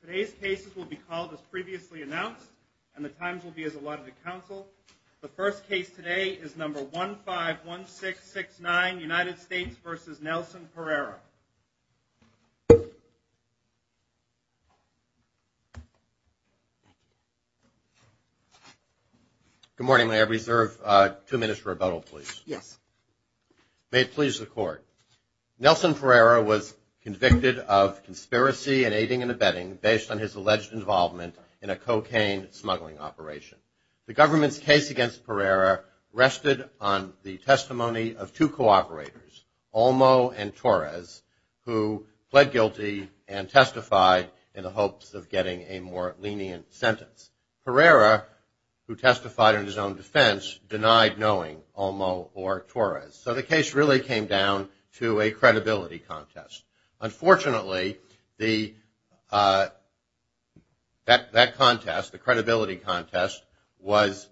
Today's cases will be called as previously announced and the times will be as allotted to council. The first case today is number 151669 United States versus Nelson Pereira. Good morning, may I reserve two minutes for rebuttal please? Yes. May it please the court. Nelson Pereira was convicted of conspiracy and aiding and abetting based on his alleged involvement in a cocaine smuggling operation. The government's case against Pereira rested on the testimony of two co-operators, Olmo and Torres, who pled guilty and testified in the hopes of getting a more lenient sentence. Pereira, who testified in his own defense, denied knowing Olmo or Torres. So the case really came down to a credibility contest. Unfortunately, that contest, the credibility contest, was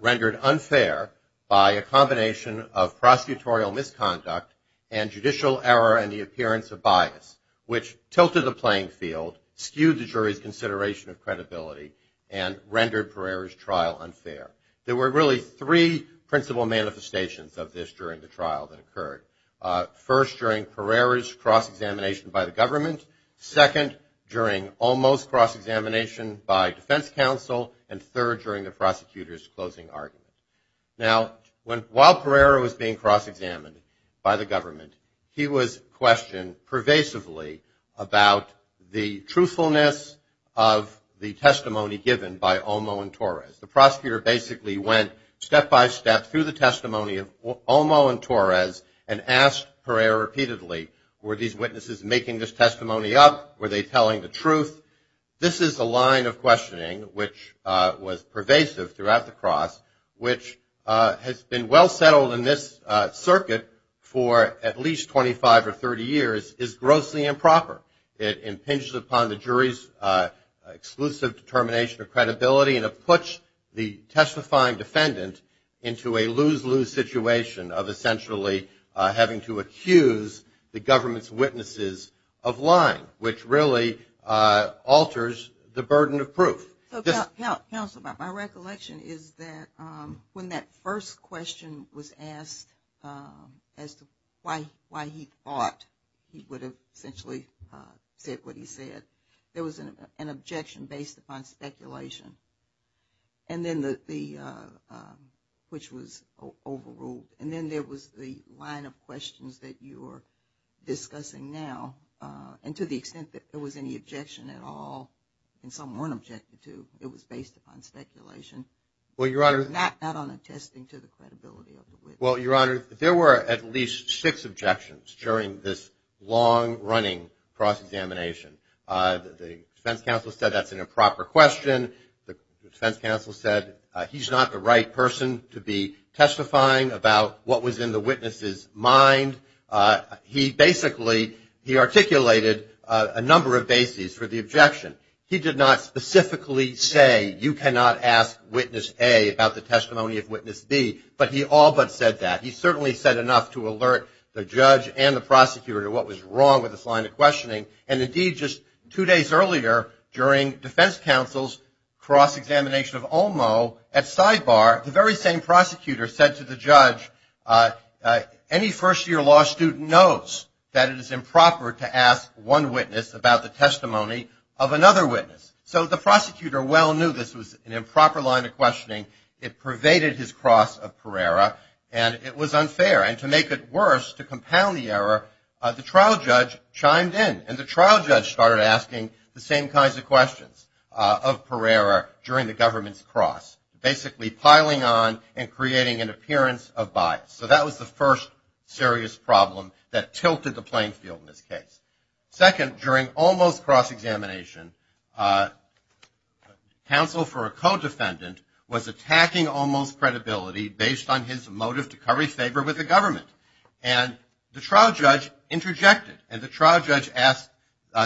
rendered unfair by a combination of prosecutorial misconduct and judicial error and the appearance of bias, which tilted the playing field, skewed the jury's consideration of credibility, and rendered Pereira's trial unfair. There were really three principal manifestations of this during the trial that occurred. First, during Pereira's cross-examination by the government. Second, during Olmo's cross-examination by defense counsel. And third, during the prosecutor's closing argument. Now, while Pereira was being cross-examined by the government, he was questioned pervasively about the truthfulness of the testimony given by Olmo and Torres. The prosecutor basically went step-by-step through the testimony of Olmo and Torres and asked Pereira repeatedly, were these witnesses making this testimony up? Were they telling the truth? This is a line of questioning which was pervasive throughout the cross, which has been well settled in this circuit for at least 25 or 30 years, is grossly improper. It impinges upon the jury's exclusive determination of credibility and puts the testifying defendant into a lose-lose situation of essentially having to accuse the government's witnesses of lying, which really alters the burden of proof. Counsel, my recollection is that when that first question was asked as to why he thought he would have essentially said what he said, there was an objection based upon speculation. And then the, which was overruled. And then there was the line of questions that you are it was based upon speculation. Well, Your Honor. Not on attesting to the credibility of the witness. Well, Your Honor, there were at least six objections during this long-running cross-examination. The defense counsel said that's an improper question. The defense counsel said he's not the right person to be testifying about what was in the witness's mind. He basically, he articulated a number of bases for the objection. He did not specifically say, you cannot ask witness A about the testimony of witness B. But he all but said that. He certainly said enough to alert the judge and the prosecutor to what was wrong with this line of questioning. And indeed, just two days earlier, during defense counsel's cross-examination of Olmo, at sidebar, the very same prosecutor said to the judge, any first-year law student knows that it is improper to ask one witness about the testimony of another witness. So the prosecutor well knew this was an improper line of questioning. It pervaded his cross of Pereira, and it was unfair. And to make it worse, to compound the error, the trial judge chimed in. And the trial judge started asking the same kinds of questions of Pereira during the government's cross. Basically piling on and creating an appearance of bias. So that was the first serious problem that tilted the playing field in this case. Second, during Olmo's cross-examination, counsel for a co-defendant was attacking Olmo's credibility based on his motive to curry favor with the government. And the trial judge interjected. And the trial judge asked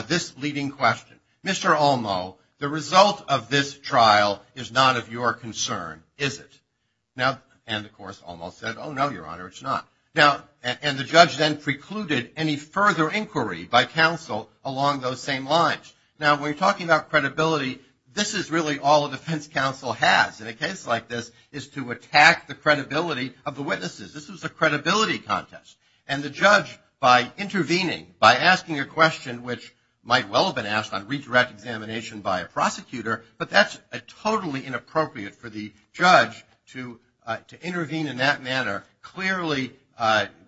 this leading question. Mr. Olmo, the result of this trial is not of your concern, is it? And of course, Olmo said, oh, no, Your Honor, it's not. And the judge then precluded any further inquiry by counsel along those same lines. Now, when you're talking about credibility, this is really all a defense counsel has in a case like this, is to attack the credibility of the witnesses. This was a credibility contest. And the judge, by intervening, by asking a question which might well have been asked on redirect examination by a prosecutor, but that's totally inappropriate for the judge to intervene in that manner, clearly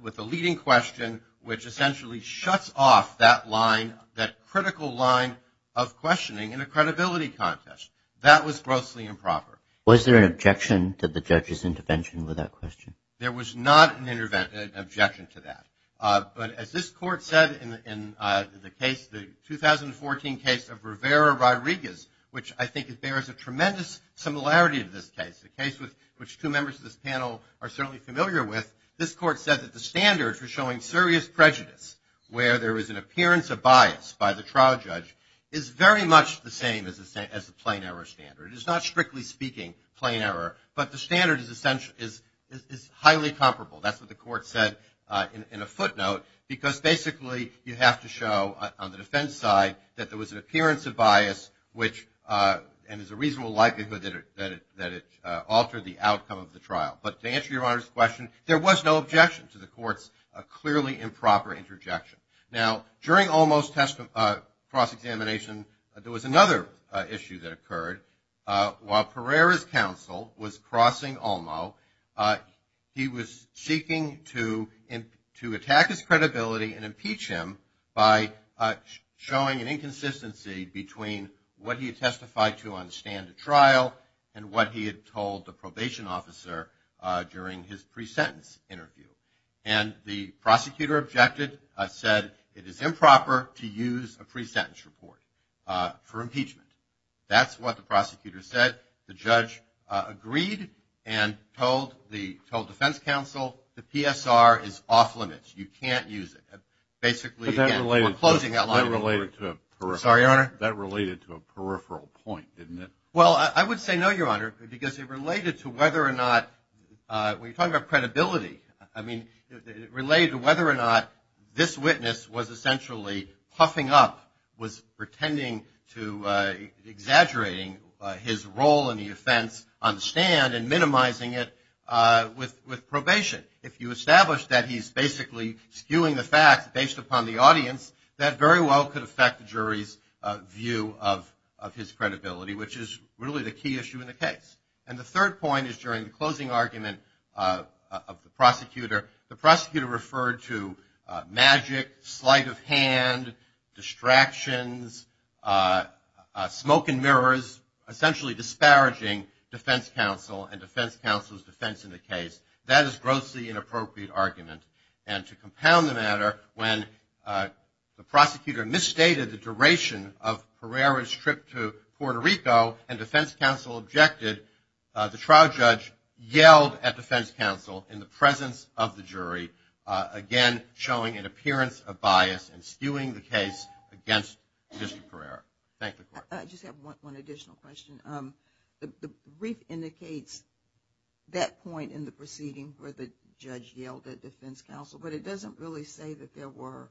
with a leading question, which essentially shuts off that line, that critical line of questioning in a credibility contest. That was grossly improper. Was there an objection to the judge's intervention with that question? There was not an objection to that. But as this court said in the case, the 2014 case of Rivera Rodriguez, which I think bears a tremendous similarity to this case, a case which two members of this panel are certainly familiar with, this court said that the standards for showing serious prejudice, where there is an appearance of bias by the trial judge, is very much the same as the plain error standard. It is not, strictly speaking, plain error, but the standard is highly comparable. That's what the court said in a footnote, because basically you have to show on the defense side that there was an appearance of bias, and there's a reasonable likelihood that it altered the outcome of the trial. But to answer Your Honor's question, there was no objection to the court's clearly improper interjection. Now, during Olmo's cross-examination, there was another issue that occurred. While Pereira's counsel was crossing Olmo, he was seeking to attack his credibility and impeach him by showing an inconsistency between what he had testified to on the stand at trial and what he had told the probation officer during his pre-sentence interview. And the prosecutor objected, said it is improper to use a pre-sentence report for impeachment. That's what the prosecutor said. The judge agreed and told the defense counsel the PSR is off-limits. You can't use it. Basically, again, we're closing that line of inquiry. Sorry, Your Honor. That related to a peripheral point, didn't it? Well, I would say no, Your Honor, because it related to whether or not, when you're talking about credibility, I mean, it related to whether or not this witness was essentially huffing up, was pretending to exaggerate his role in the offense on the stand and minimizing it with probation. If you establish that he's basically skewing the facts based upon the audience, that very well could affect the jury's view of his credibility, which is really the key issue in the case. And the third point is during the closing argument of the prosecutor, the prosecutor referred to magic, sleight of hand, distractions, smoke and mirrors, essentially disparaging Defense Counsel and Defense Counsel's defense in the case. That is grossly inappropriate argument. And to compound the matter, when the prosecutor misstated the duration of Herrera's trip to Puerto Rico and Defense Counsel objected, the trial judge yelled at Defense Counsel in the presence of the jury, again, showing an appearance of bias and skewing the case against Mr. Herrera. I just have one additional question. The brief indicates that point in the proceeding where the judge yelled at Defense Counsel, but it doesn't really say that there were,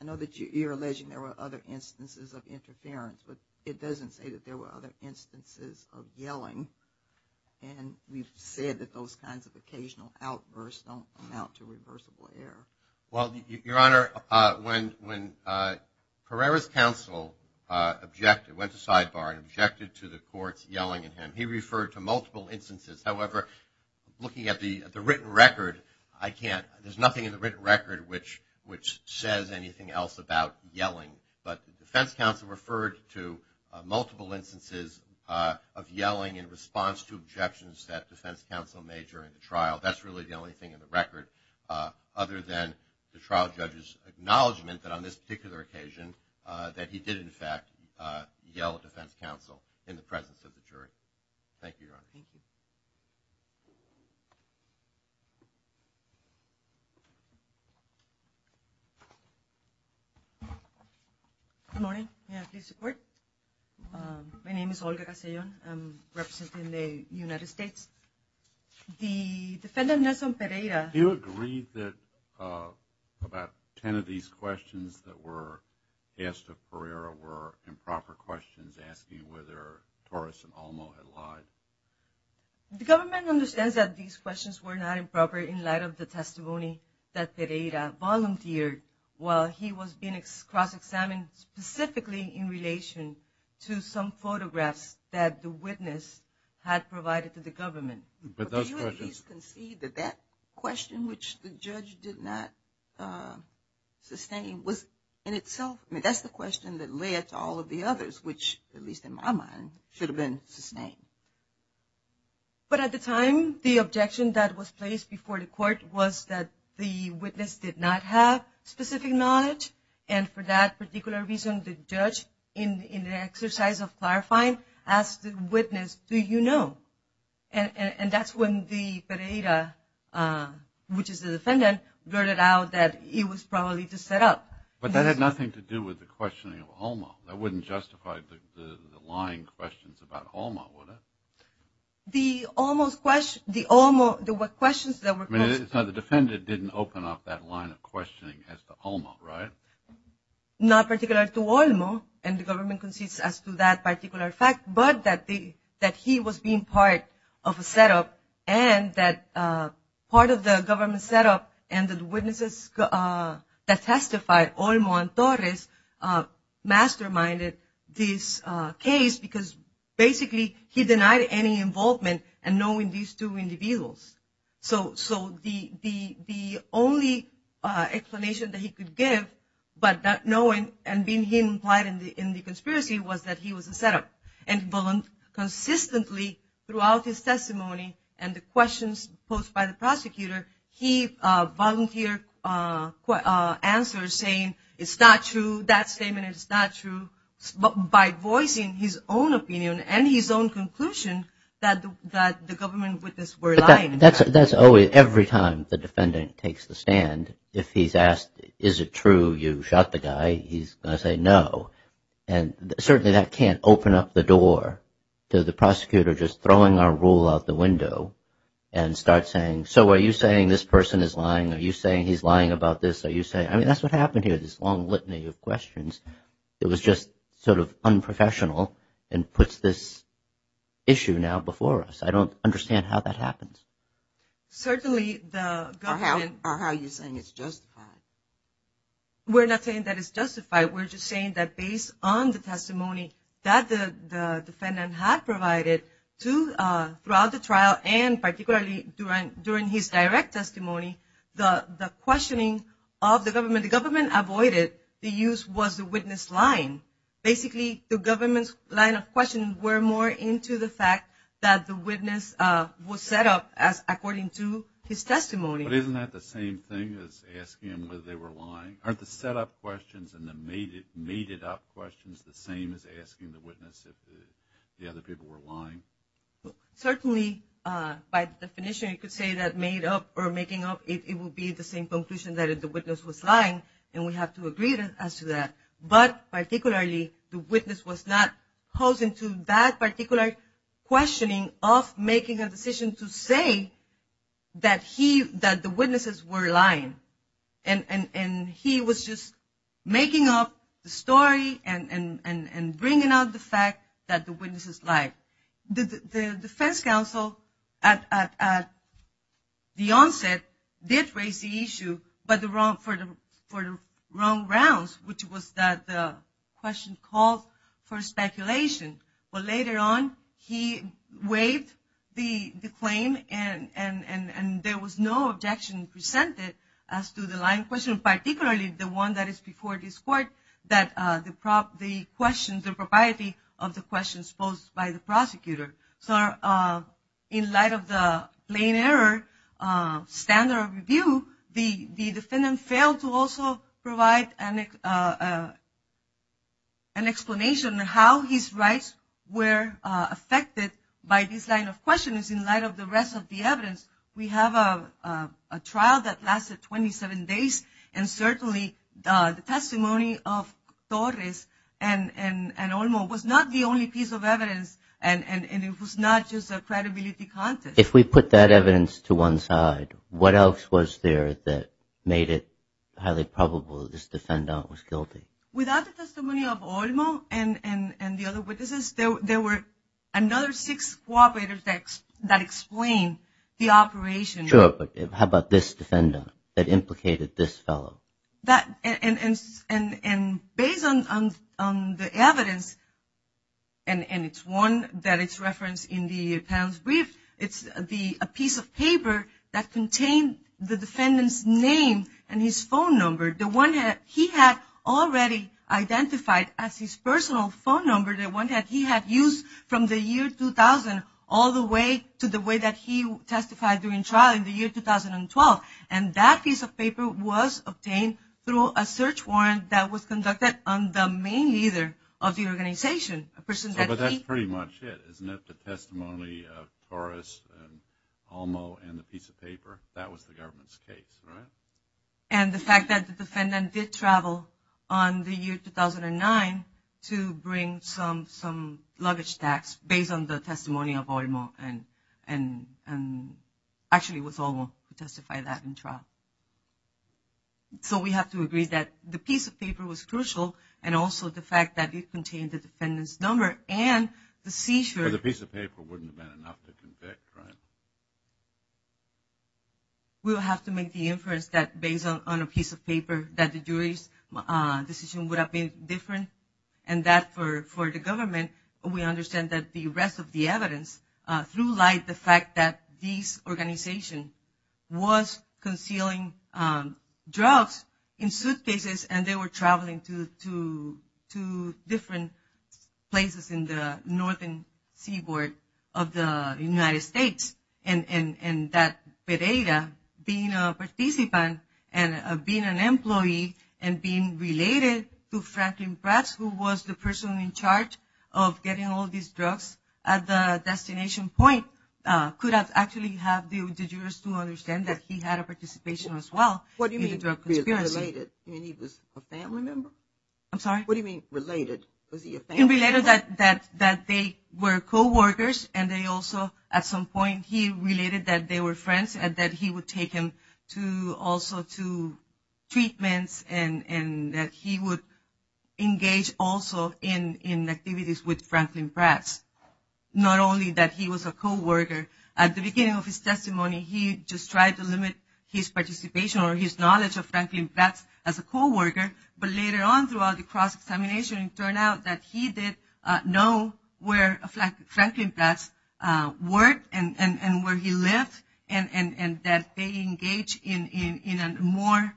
I know that you're alleging there were other instances of interference, but it doesn't say that there were other instances of yelling. And we've said that those kinds of occasional outbursts don't amount to reversible error. Well, Your Honor, when Herrera's counsel objected, went to sidebar and objected to the court's yelling at him, he referred to multiple instances. However, looking at the written record, I can't, there's nothing in the written record which says anything else about yelling, but Defense Counsel referred to multiple instances of yelling in response to objections that Defense Counsel made during the trial. That's really the only thing in the record, other than the trial judge's acknowledgement that on this particular occasion that he did, in fact, yell at Defense Counsel. Good morning. May I please support? My name is Olga Casellon. I'm representing the United States. The defendant Nelson Pereira. Do you agree that about 10 of these questions that were asked of Herrera were improper questions asking whether Torres and Olmo had lied? The government understands that these questions were not improper in light of the testimony that Pereira volunteered while he was being cross-examined specifically in relation to some photographs that the witness had provided to the government. But do you at least concede that that question, which the judge did not sustain, was in itself, that's the question that led to all of the others, which, at least in my mind, should have been sustained. But at the time, the objection that was placed before the court was that the witness did not have specific knowledge. And for that particular reason, the judge, in the exercise of clarifying, asked the witness, do you know? And that's when the Pereira, which is the defendant, blurted out that he was probably just set up. But that had nothing to do with the questioning of Olmo. That wouldn't justify the lying questions about Olmo, would it? The Olmo's question, the Olmo, the questions that were posed. I mean, the defendant didn't open up that line of questioning as to Olmo, right? Not particular to Olmo, and the government concedes as to that particular fact. But that he was being part of a setup, and that part of the government setup, and the witnesses that testified, Olmo and Torres, masterminded this case because, basically, he denied any involvement, and knowing these two individuals. So the only explanation that he could give, but not knowing, and being he implied in the conspiracy, was that he was a setup. And consistently, throughout his testimony, and the questions posed by the prosecutor, he volunteered answers saying, it's not true, that statement is not true, by voicing his own opinion and his own conclusion that the government witnesses were lying. That's always, every time the defendant takes the stand, if he's asked, is it true you shot the guy, he's going to say no. And certainly that can't open up the door to the prosecutor just throwing our rule out the window, and start saying, so are you saying this person is lying? Are you saying he's lying about this? Are you saying, I mean, that's what happened here, this long litany of questions. It was just sort of unprofessional, and puts this issue now before us. I don't understand how that happens. Certainly the... Or how are you saying it's justified? We're not saying that it's justified. We're just saying that based on the testimony that the throughout the trial, and particularly during his direct testimony, the questioning of the government, the government avoided the use was the witness line. Basically, the government's line of questioning were more into the fact that the witness was set up as according to his testimony. But isn't that the same thing as asking him whether they were lying? Aren't the setup questions and the mated up questions the same as asking the witness if the other people were lying? Certainly, by definition, you could say that made up or making up, it will be the same conclusion that if the witness was lying, and we have to agree as to that. But particularly, the witness was not posing to that particular questioning of making a decision to say that he, that the witnesses were lying. And he was just making up the story and bringing out the fact that the defense counsel at the onset did raise the issue, but for the wrong grounds, which was that the question called for speculation. But later on, he waived the claim and there was no objection presented as to the lying question, particularly the one that is before this court, that the in light of the plain error standard of review, the defendant failed to also provide an explanation of how his rights were affected by this line of questioning in light of the rest of the evidence. We have a trial that lasted 27 days, and certainly the testimony of Torres and Olmo was not the only piece of evidence, and it was not just a credibility contest. If we put that evidence to one side, what else was there that made it highly probable that this defendant was guilty? Without the testimony of Olmo and the other witnesses, there were another six cooperators that explained the operation. Sure, but how about this defendant that implicated this fellow? And based on the evidence, and it's one that is referenced in the panel's brief, it's a piece of paper that contained the defendant's name and his phone number, the one that he had already identified as his personal phone number, the one that he had used from the year 2000 all the way to the way that he testified during 2012, and that piece of paper was obtained through a search warrant that was conducted on the main leader of the organization. But that's pretty much it, isn't it? The testimony of Torres and Olmo and the piece of paper, that was the government's case, right? And the fact that the defendant did travel on the year 2009 to bring some luggage stacks based on the testimony of Olmo and actually with Olmo to testify that in trial. So we have to agree that the piece of paper was crucial and also the fact that it contained the defendant's number and the seizure. But the piece of paper wouldn't have been enough to convict, right? We will have to make the inference that based on a piece of paper that the jury's decision would have been different and that for the government, we understand that the rest of the evidence through lies the fact that this organization was concealing drugs in suitcases and they were traveling to different places in the northern seaboard of the United States. And that Pereira being a participant and being an employee and being related to Franklin Bratz who was the person in charge of getting all these drugs at the destination point could have actually have the jurors to understand that he had a participation as well in the drug conspiracy. What do you mean related? You mean he was a family member? I'm sorry? What do you mean related? Was he a family member? It related that they were co-workers and they also at some point he related that they were friends and that he would take him also to treatments and that he would engage also in activities with Franklin Bratz. Not only that he was a co-worker, at the beginning of his testimony he just tried to limit his participation or his knowledge of Franklin Bratz as a co-worker, but later on throughout the cross-examination it turned out that he did know where Franklin Bratz worked and where he lived and that they engaged in a more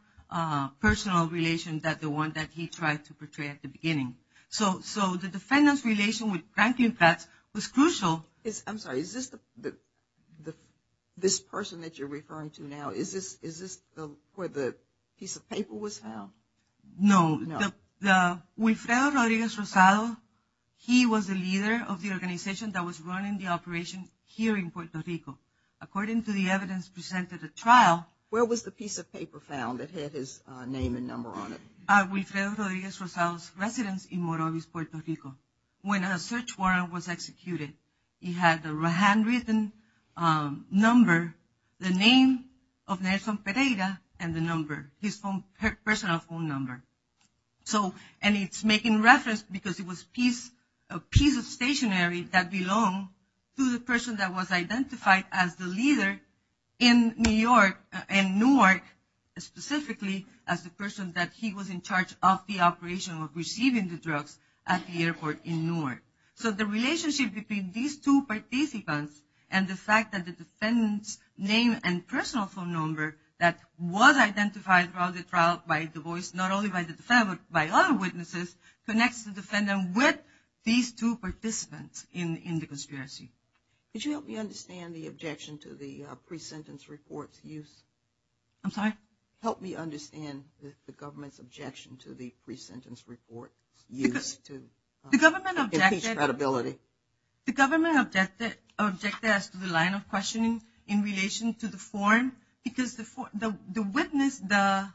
personal relation than the one that he tried to portray at the beginning. So the defendant's relation with Franklin Bratz was crucial. I'm sorry, is this the person that you're referring to now, is this where the piece of paper was found? No, Wilfredo Rodriguez Rosado, he was the leader of the organization that was running the operation here in Puerto Rico. According to the evidence presented at trial... Where was the piece of paper found that had his name and number on it? Wilfredo Rodriguez Rosado's residence in Morovis, Puerto Rico. When a search warrant was executed he had the handwritten number, the name of Nelson Pereira and the number. His personal phone number. And it's making reference because it was a piece of stationery that belonged to the person that was identified as the leader in Newark, specifically as the person that he was in charge of the operation of receiving the drugs at the airport in Newark. So the relationship between these two participants and the fact that the defendant's name and personal phone number that was identified throughout the trial by Du Bois, not only by the defendant but by other witnesses, connects the defendant with these two participants in the conspiracy. Could you help me understand the objection to the pre-sentence report's use? I'm sorry? Help me understand the government's objection to the pre-sentence report's use to increase credibility. The government objected to the line of questioning in relation to the form because the witness, the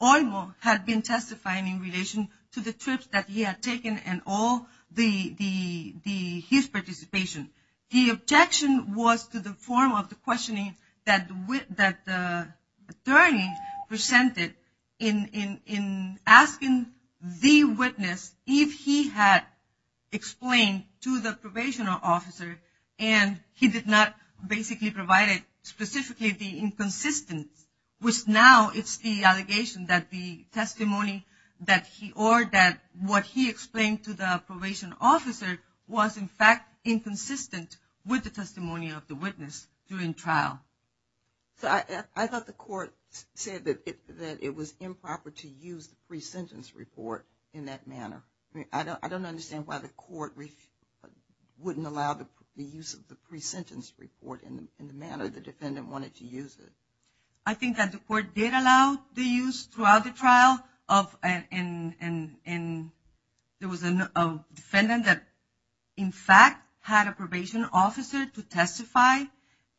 witness had been testifying in relation to the trips that he had taken and all his participation. The objection was to the form of the questioning that the attorney presented in asking the witness if he had explained to the probation officer and he did not basically provide it specifically the inconsistence, which now it's the allegation that the testimony that he or that what he explained to the probation officer was in fact inconsistent with the testimony of the witness during trial. So I thought the court said that it was improper to use the pre-sentence report in that manner. I don't understand why the court wouldn't allow the use of the pre-sentence report in the manner the defendant wanted to use it. I think that the court did allow the use throughout the trial of and there was a defendant that in fact had a probation officer to testify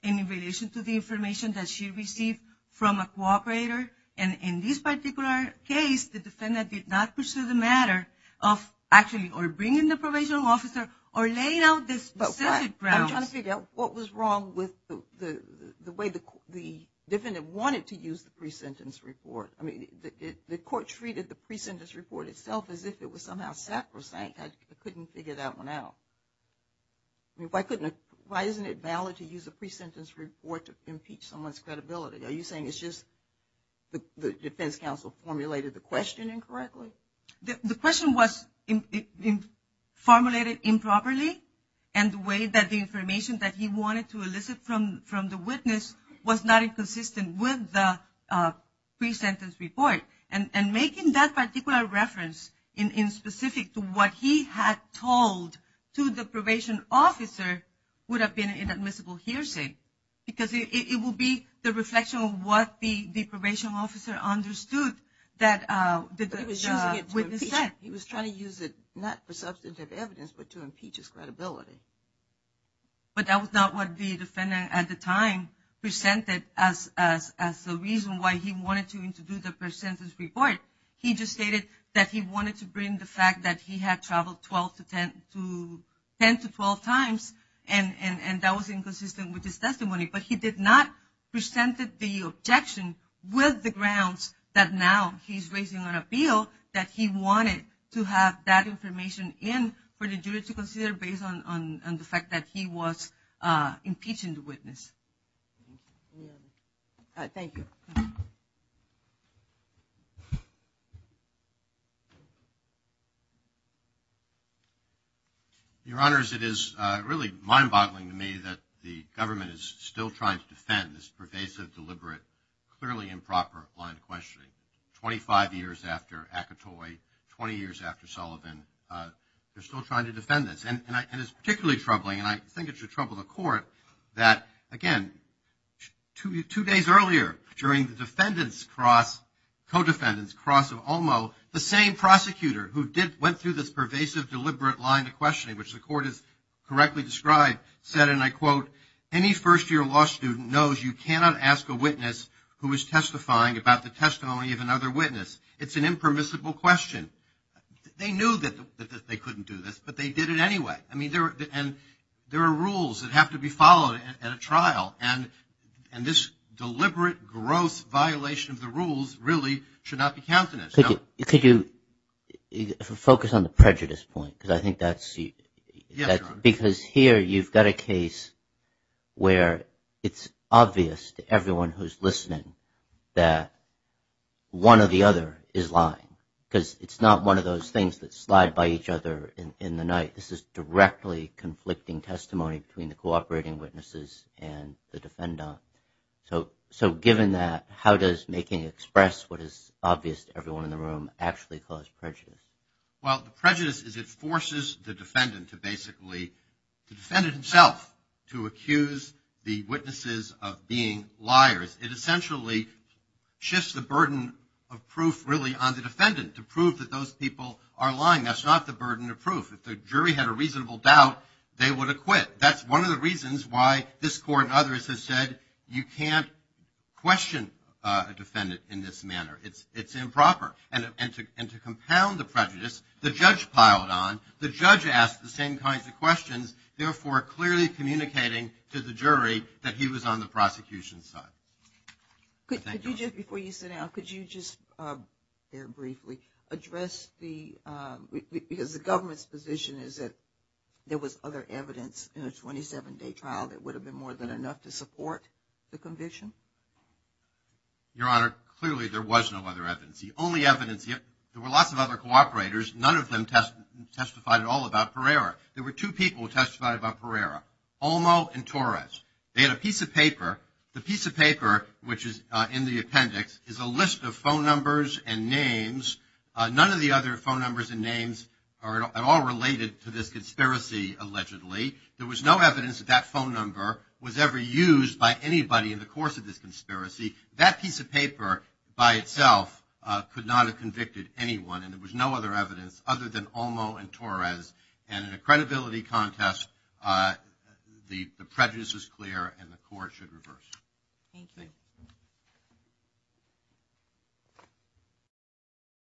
in relation to the information that she received from a cooperator and in this particular case the defendant did not pursue the matter of actually or bringing the probation officer or laying out the specific grounds. I'm trying to figure out what was wrong with the way the defendant wanted to use the pre-sentence report. I mean, the court treated the pre-sentence report itself as if it was somehow sacrosanct. I couldn't figure that one out. Why isn't it valid to use a pre-sentence report to impeach someone's credibility? Are you saying it's just the defense counsel formulated the question incorrectly? The question was formulated improperly and the way that the information that he wanted to elicit from the witness was not inconsistent with the pre-sentence report. And making that particular reference in specific to what he had told to the probation officer would have been an inadmissible hearsay. Because it would be the reflection of what the probation officer understood that he was trying to use it not for substantive evidence but to impeach his credibility. But that was not what the defendant at the time presented as the reason why he wanted to do the pre-sentence report. He just stated that he wanted to bring the fact that he had traveled 10 to 12 times and that was inconsistent with his testimony. But he did not present the objection with the grounds that now he's raising an appeal that he wanted to have that information in for the jury to consider based on the fact that he was impeaching the witness. Thank you. Your Honors, it is really mind-boggling to me that the government is still trying to defend this pervasive, deliberate, clearly improper line of questioning. 25 years after Akatoi, 20 years after Sullivan, they're still trying to defend this. And it's particularly troubling and I think it should trouble the court that, again, two days earlier during the defendant's cross, co-defendant's cross of Ulmo, the same prosecutor who went through this pervasive, deliberate line of questioning, which the court has correctly described, said, and I quote, any first-year law student knows you cannot ask a witness who is testifying about the testimony of another witness. It's an impermissible question. They knew that they couldn't do this, but they did it anyway. I mean, there are rules that have to be followed at a trial and this deliberate, gross violation of the rules really should not be counted as. Could you focus on the prejudice point because I think that's because here you've got a case where it's obvious to everyone who's listening that one or the other is lying because it's not one of those things that slide by each other in the night. This is directly conflicting testimony between the cooperating witnesses and the defendant. So given that, how does making it express what is obvious to everyone in the room actually cause prejudice? Well, the prejudice is it forces the defendant to basically, the defendant himself, to accuse the witnesses of being liars. It essentially shifts the burden of proof really on the defendant to prove that those people are lying. That's not the burden of proof. If the jury had a reasonable doubt, they would acquit. That's one of the reasons why this court and others have said you can't question a defendant in this manner. It's improper. And to compound the prejudice, the judge piled on. The judge asked the same kinds of questions, therefore clearly communicating to the jury that he was on the prosecution's side. Before you sit down, could you just briefly address the, because the government's position is that there was other evidence in a 27-day trial that would have been more than enough to support the conviction? Your Honor, clearly there was no other evidence. The only evidence, there were lots of other cooperators. None of them testified at all about Pereira. There were two people who testified about Pereira, Olmo and Torres. They had a piece of paper. The piece of paper, which is in the appendix, is a list of phone numbers and names. None of the other phone numbers and names are at all related to this conspiracy, allegedly. There was no evidence that that phone number was ever used by anybody in the course of this conspiracy. That piece of paper by itself could not have convicted anyone. And there was no other evidence other than Olmo and Torres. And in a credibility contest, the prejudice is clear and the court should reverse. Thank you.